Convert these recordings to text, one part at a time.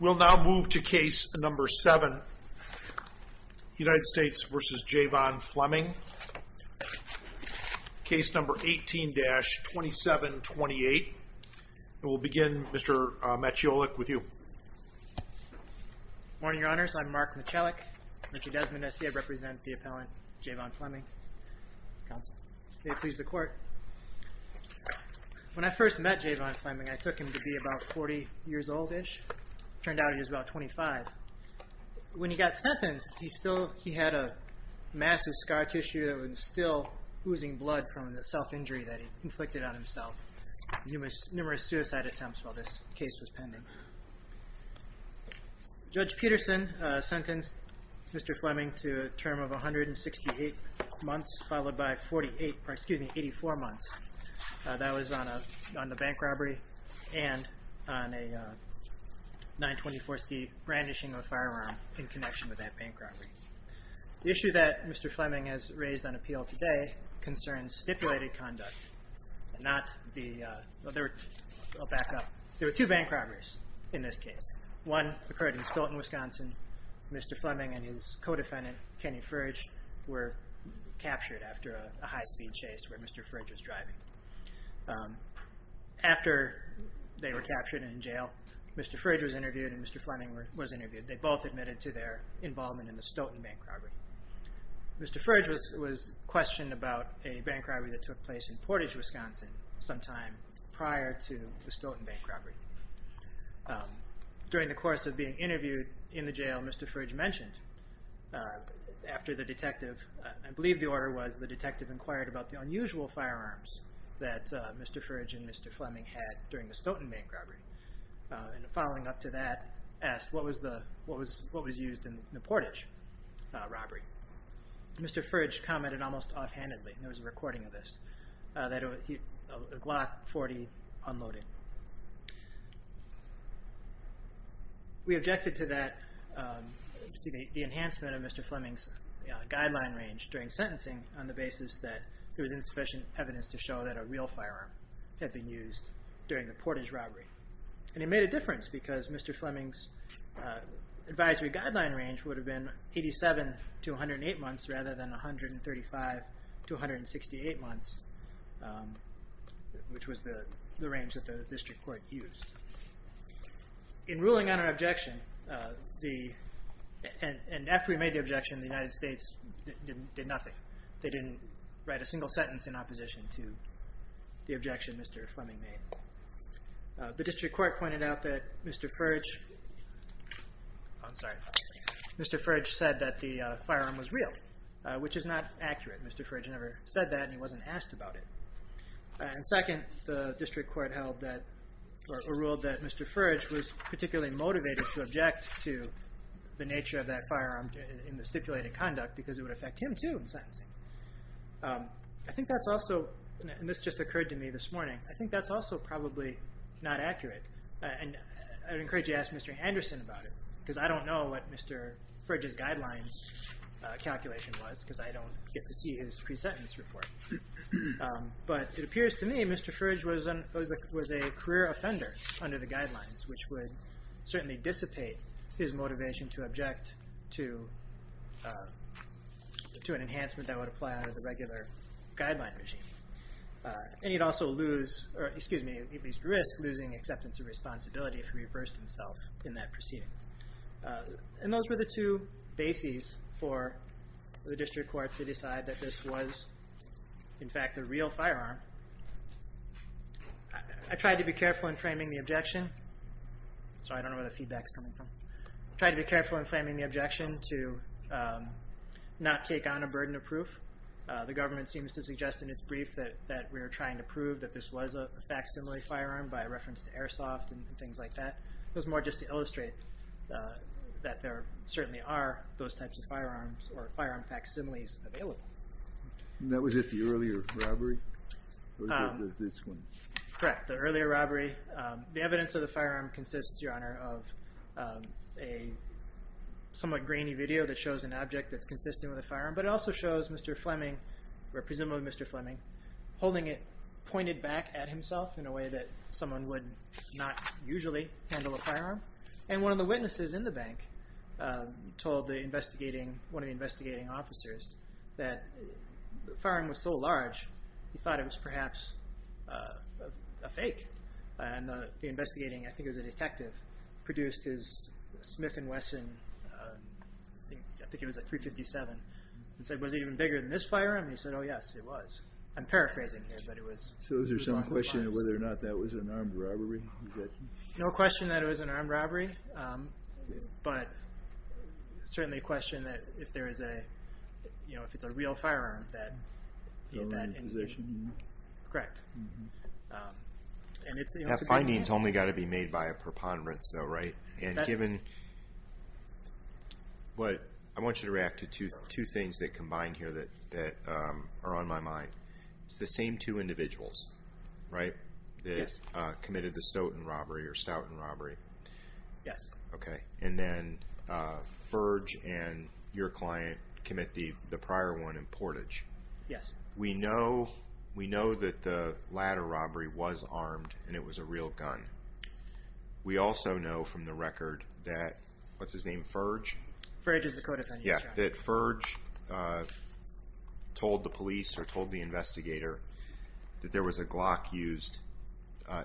We'll now move to case number 7, United States v. Jay'von Fleming. Case number 18-2728. We'll begin, Mr. Maciejolik, with you. Good morning, Your Honors. I'm Mark Maciejolik. Mr. Desmond, S.C., I represent the appellant, Jay'von Fleming, counsel. May it please the Court. When I first met Jay'von Fleming, I took him to be about 40 years old-ish. It turned out he was about 25. When he got sentenced, he had a massive scar tissue that was still oozing blood from the self-injury that he inflicted on himself. Numerous suicide attempts while this case was pending. Judge Peterson sentenced Mr. Fleming to a term of 168 months, followed by 84 months. That was on a bank robbery and on a 924C brandishing of a firearm in connection with that bank robbery. The issue that Mr. Fleming has raised on appeal today concerns stipulated conduct. There were two bank robberies in this case. One occurred in Stoughton, Wisconsin. Mr. Fleming and his co-defendant, Kenny Fridge, were captured after a high-speed chase where Mr. Fridge was driving. After they were captured and in jail, Mr. Fridge was interviewed and Mr. Fleming was interviewed. They both admitted to their involvement in the Stoughton bank robbery. Mr. Fridge was questioned about a bank robbery that took place in Portage, Wisconsin sometime prior to the Stoughton bank robbery. During the course of being interviewed in the jail, Mr. Fridge mentioned, after the detective, I believe the order was, the detective inquired about the unusual firearms that Mr. Fridge and Mr. Fleming had during the Stoughton bank robbery. Following up to that, asked what was used in the Portage robbery. Mr. Fridge commented almost offhandedly, there was a recording of this, that a Glock 40 unloaded. We objected to that, the enhancement of Mr. Fleming's guideline range during sentencing on the basis that there was insufficient evidence to show that a real firearm had been used during the Portage robbery. And it made a difference because Mr. Fleming's advisory guideline range would have been 87 to 108 months rather than 135 to 168 months, which was the range that the district court used. In ruling on our objection, and after we made the objection, the United States did nothing. They didn't write a single sentence in opposition to the objection Mr. Fleming made. The district court pointed out that Mr. Fridge said that the firearm was real, which is not accurate. Mr. Fridge never said that and he wasn't asked about it. And second, the district court ruled that Mr. Fridge was particularly motivated to object to the nature of that firearm in the stipulated conduct because it would affect him too in sentencing. I think that's also, and this just occurred to me this morning, I think that's also probably not accurate. And I encourage you to ask Mr. Anderson about it because I don't know what Mr. Fridge's guidelines calculation was because I don't get to see his pre-sentence report. But it appears to me Mr. Fridge was a career offender under the guidelines, which would certainly dissipate his motivation to object to an enhancement that would apply under the regular guideline regime. And he'd also lose, or excuse me, at least risk losing acceptance and responsibility if he reversed himself in that proceeding. And those were the two bases for the district court to decide that this was in fact a real firearm. I tried to be careful in framing the objection. Sorry, I don't know where the feedback's coming from. I tried to be careful in framing the objection to not take on a burden of proof. The government seems to suggest in its brief that we're trying to prove that this was a facsimile firearm by reference to Airsoft and things like that. It was more just to illustrate that there certainly are those types of firearms or firearm facsimiles available. That was at the earlier robbery? Correct, the earlier robbery. The evidence of the firearm consists, Your Honor, of a somewhat grainy video that shows an object that's consistent with a firearm. But it also shows Mr. Fleming, or presumably Mr. Fleming, holding it pointed back at himself in a way that someone would not usually handle a firearm. And one of the witnesses in the bank told one of the investigating officers that the firearm was so large he thought it was perhaps a fake. And the investigating, I think it was a detective, produced his Smith & Wesson, I think it was a .357, and said, was it even bigger than this firearm? And he said, oh yes, it was. I'm paraphrasing here, but it was on both sides. So is there some question of whether or not that was an armed robbery? No question that it was an armed robbery. But certainly a question that if it's a real firearm that... The only possession you know? Correct. That finding's only got to be made by a preponderance, though, right? And given... I want you to react to two things that combine here that are on my mind. It's the same two individuals, right? Yes. That committed the Stoughton robbery or Stoughton robbery. Yes. Okay. And then Furge and your client commit the prior one in Portage. Yes. We know that the latter robbery was armed and it was a real gun. We also know from the record that, what's his name, Furge? Furge is the co-defendant, yes. And that Furge told the police or told the investigator that there was a Glock used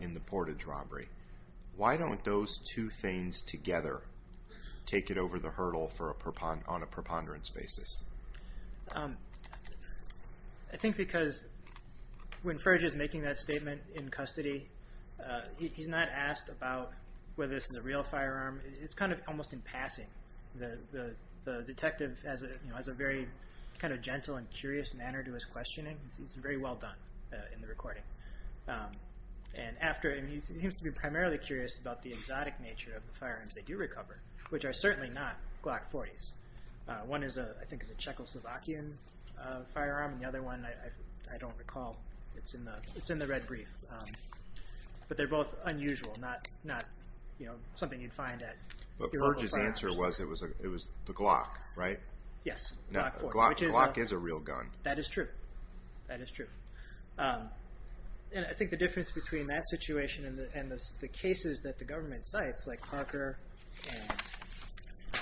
in the Portage robbery. Why don't those two things together take it over the hurdle on a preponderance basis? I think because when Furge is making that statement in custody, he's not asked about whether this is a real firearm. It's kind of almost in passing. The detective has a very kind of gentle and curious manner to his questioning. He's very well done in the recording. And he seems to be primarily curious about the exotic nature of the firearms they do recover, which are certainly not Glock 40s. One, I think, is a Czechoslovakian firearm, and the other one, I don't recall. It's in the red brief. But Furge's answer was it was the Glock, right? Yes. Glock is a real gun. That is true. That is true. And I think the difference between that situation and the cases that the government cites, like Parker and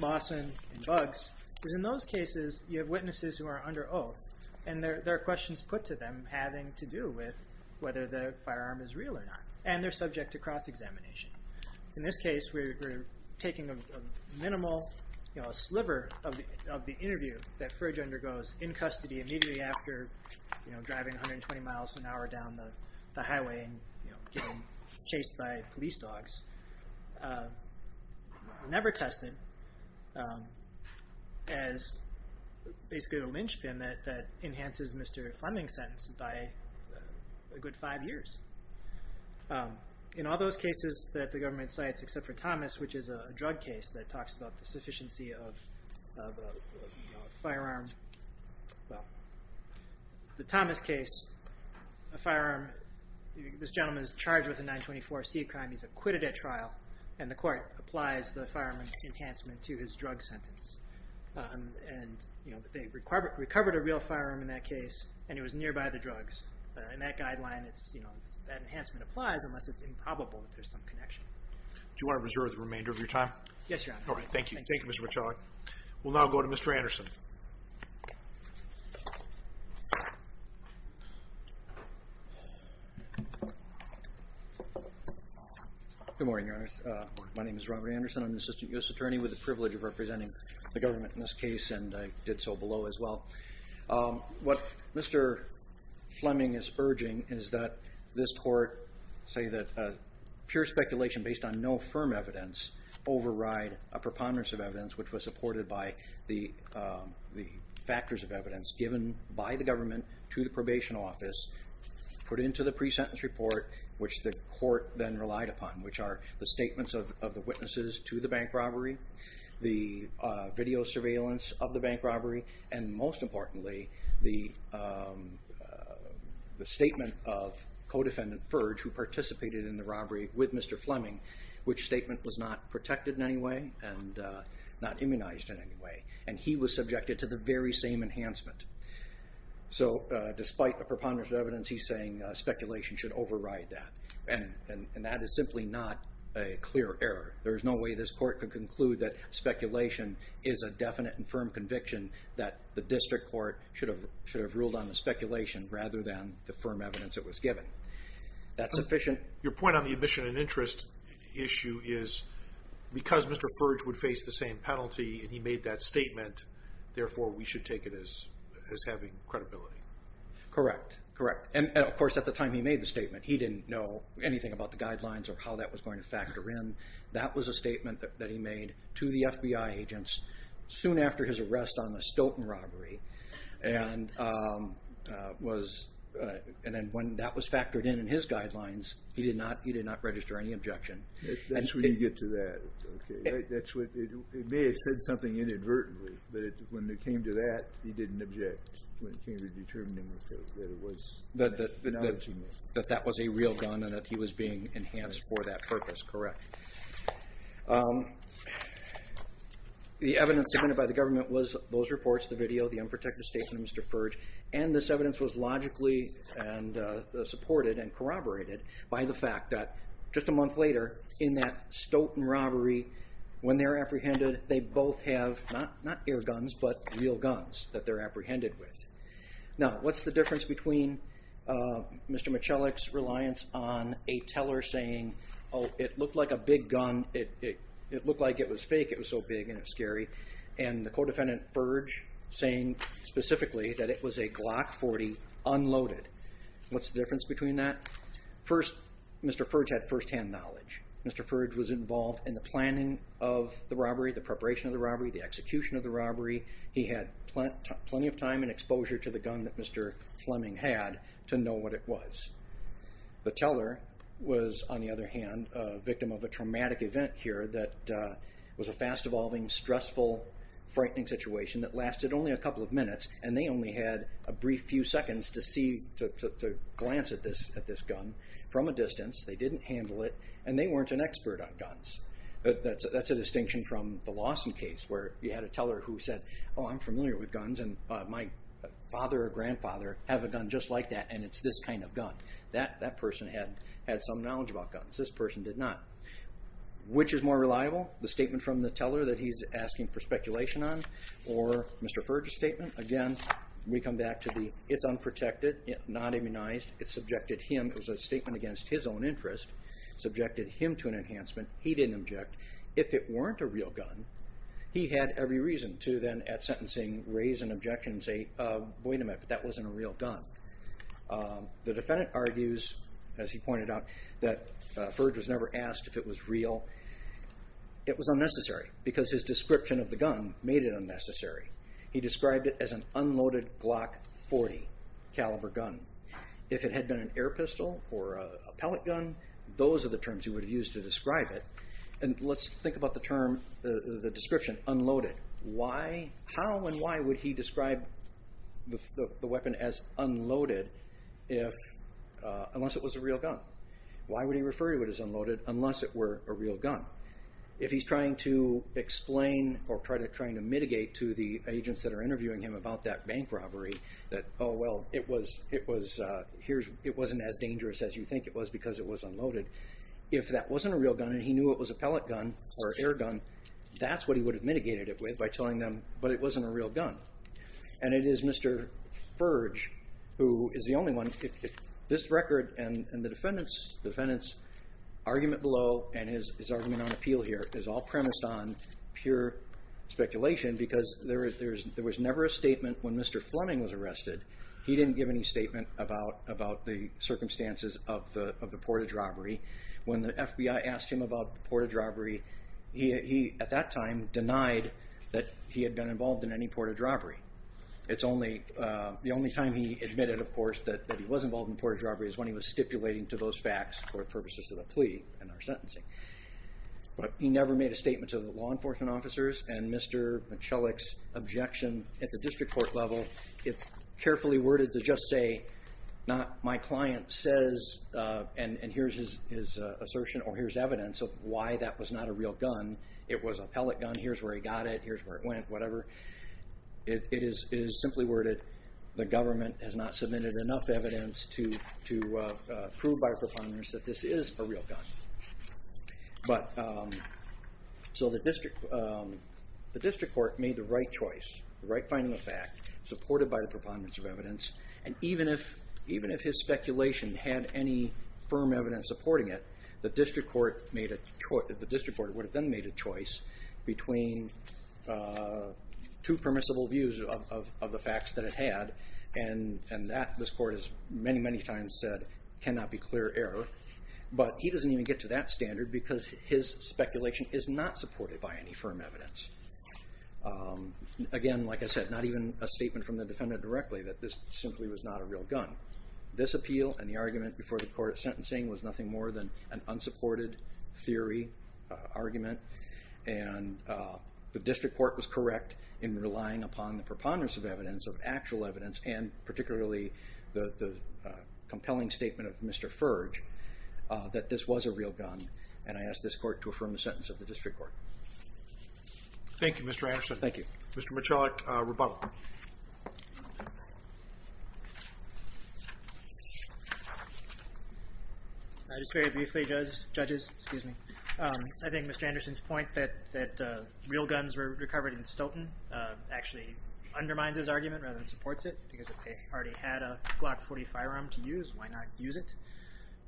Lawson and Buggs, is in those cases you have witnesses who are under oath, and there are questions put to them having to do with whether the firearm is real or not. And they're subject to cross-examination. In this case, we're taking a minimal sliver of the interview that Furge undergoes in custody immediately after driving 120 miles an hour down the highway and getting chased by police dogs. Never tested as basically a lynchpin that enhances Mr. Fleming's sentence by a good five years. In all those cases that the government cites except for Thomas, which is a drug case that talks about the sufficiency of a firearm, well, the Thomas case, a firearm, this gentleman is charged with a 924-C crime. He's acquitted at trial, and the court applies the firearm enhancement to his drug sentence. And they recovered a real firearm in that case, and it was nearby the drugs. In that guideline, that enhancement applies unless it's improbable that there's some connection. Do you want to reserve the remainder of your time? Yes, Your Honor. All right, thank you. Thank you, Mr. Michalik. We'll now go to Mr. Anderson. Good morning, Your Honors. My name is Robert Anderson. I'm an assistant U.S. attorney with the privilege of representing the government in this case, and I did so below as well. What Mr. Fleming is urging is that this court say that pure speculation based on no firm evidence override a preponderance of evidence, which was supported by the factors of evidence given by the government to the probation office, put into the pre-sentence report, which the court then relied upon, which are the statements of the witnesses to the bank robbery, the video surveillance of the bank robbery, and most importantly, the statement of co-defendant Ferge, who participated in the robbery with Mr. Fleming, which statement was not protected in any way and not immunized in any way, and he was subjected to the very same enhancement. So despite the preponderance of evidence, he's saying speculation should override that, and that is simply not a clear error. There is no way this court could conclude that speculation is a definite and firm conviction that the district court should have ruled on the speculation rather than the firm evidence it was given. That's sufficient. Your point on the admission and interest issue is because Mr. Ferge would face the same penalty and he made that statement, therefore we should take it as having credibility. Correct, correct. And, of course, at the time he made the statement, he didn't know anything about the guidelines or how that was going to factor in. That was a statement that he made to the FBI agents soon after his arrest on the Stoughton robbery, and when that was factored in in his guidelines, he did not register any objection. That's where you get to that. It may have said something inadvertently, but when it came to that, he didn't object, when it came to determining that it was a penalty made. That that was a real gun and that he was being enhanced for that purpose, correct. The evidence submitted by the government was those reports, the video, the unprotected statement of Mr. Ferge, and this evidence was logically supported and corroborated by the fact that just a month later, in that Stoughton robbery, when they're apprehended, they both have not air guns, but real guns that they're apprehended with. Now, what's the difference between Mr. Michalik's reliance on a teller saying, oh, it looked like a big gun, it looked like it was fake, it was so big and it's scary, and the co-defendant, Ferge, saying specifically that it was a Glock 40 unloaded. What's the difference between that? First, Mr. Ferge had firsthand knowledge. Mr. Ferge was involved in the planning of the robbery, the preparation of the robbery, the execution of the robbery. He had plenty of time and exposure to the gun that Mr. Fleming had to know what it was. The teller was, on the other hand, a victim of a traumatic event here that was a fast-evolving, stressful, frightening situation that lasted only a couple of minutes, and they only had a brief few seconds to see, to glance at this gun from a distance. They didn't handle it, and they weren't an expert on guns. That's a distinction from the Lawson case where you had a teller who said, oh, I'm familiar with guns, and my father or grandfather have a gun just like that, and it's this kind of gun. That person had some knowledge about guns. This person did not. Which is more reliable, the statement from the teller that he's asking for speculation on or Mr. Ferge's statement? Again, we come back to the it's unprotected, not immunized. It subjected him, it was a statement against his own interest, subjected him to an enhancement. He didn't object. If it weren't a real gun, he had every reason to then at sentencing raise an objection and say, wait a minute, that wasn't a real gun. The defendant argues, as he pointed out, that Ferge was never asked if it was real. It was unnecessary because his description of the gun made it unnecessary. He described it as an unloaded Glock 40 caliber gun. If it had been an air pistol or a pellet gun, those are the terms he would have used to describe it. And let's think about the term, the description, unloaded. How and why would he describe the weapon as unloaded unless it was a real gun? Why would he refer to it as unloaded unless it were a real gun? If he's trying to explain or trying to mitigate to the agents that are interviewing him about that bank robbery that, oh, well, it wasn't as dangerous as you think it was because it was unloaded, if that wasn't a real gun and he knew it was a pellet gun or an air gun, that's what he would have mitigated it with by telling them, but it wasn't a real gun. And it is Mr. Ferge who is the only one, this record and the defendant's argument below and his argument on appeal here is all premised on pure speculation because there was never a statement when Mr. Fleming was arrested, he didn't give any statement about the circumstances of the Portage robbery. When the FBI asked him about the Portage robbery, he, at that time, denied that he had been involved in any Portage robbery. The only time he admitted, of course, that he was involved in Portage robbery is when he was stipulating to those facts for purposes of the plea and our sentencing. But he never made a statement to the law enforcement officers and Mr. Michalik's objection at the district court level. It's carefully worded to just say, my client says, and here's his assertion or here's evidence of why that was not a real gun. It was a pellet gun, here's where he got it, here's where it went, whatever. It is simply worded, the government has not submitted enough evidence to prove by a preponderance that this is a real gun. So the district court made the right choice, the right finding of fact, supported by the preponderance of evidence, and even if his speculation had any firm evidence supporting it, the district court would have then made a choice between two permissible views of the facts that it had, and that, this court has many, many times said, cannot be clear error. But he doesn't even get to that standard because his speculation is not supported by any firm evidence. Again, like I said, not even a statement from the defendant directly that this simply was not a real gun. This appeal and the argument before the court at sentencing was nothing more than an unsupported theory, argument, and the district court was correct in relying upon the preponderance of evidence, of actual evidence, and particularly the compelling statement of Mr. Furge, that this was a real gun, and I ask this court to affirm the sentence of the district court. Thank you, Mr. Anderson. Thank you. Mr. Michalak, rebuttal. I just very briefly, judges, excuse me. I think Mr. Anderson's point that real guns were recovered in Stoughton actually undermines his argument rather than supports it because if they already had a Glock 40 firearm to use, why not use it?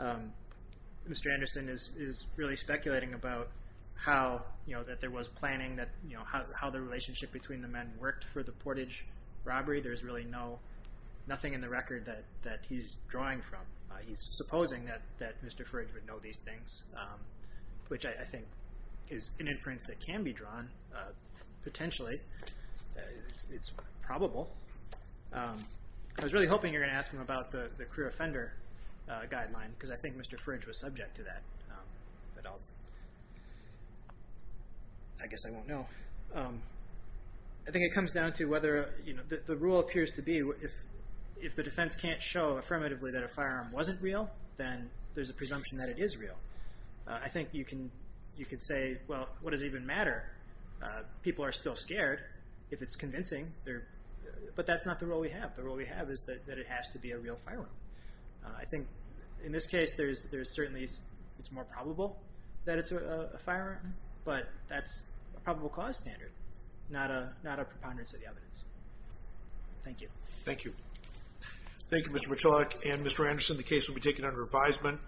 Mr. Anderson is really speculating about how, you know, that there was planning, how the relationship between the men worked for the Portage robbery. There's really nothing in the record that he's drawing from. He's supposing that Mr. Furge would know these things, which I think is an inference that can be drawn potentially. It's probable. I was really hoping you were going to ask him about the career offender guideline because I think Mr. Furge was subject to that. I guess I won't know. I think it comes down to whether, you know, the rule appears to be if the defense can't show affirmatively that a firearm wasn't real, then there's a presumption that it is real. I think you can say, well, what does it even matter? People are still scared if it's convincing. But that's not the role we have. The role we have is that it has to be a real firearm. I think in this case there's certainly it's more probable that it's a firearm, but that's a probable cause standard, not a preponderance of the evidence. Thank you. Thank you. Thank you, Mr. Michalak. And, Mr. Anderson, the case will be taken under advisement.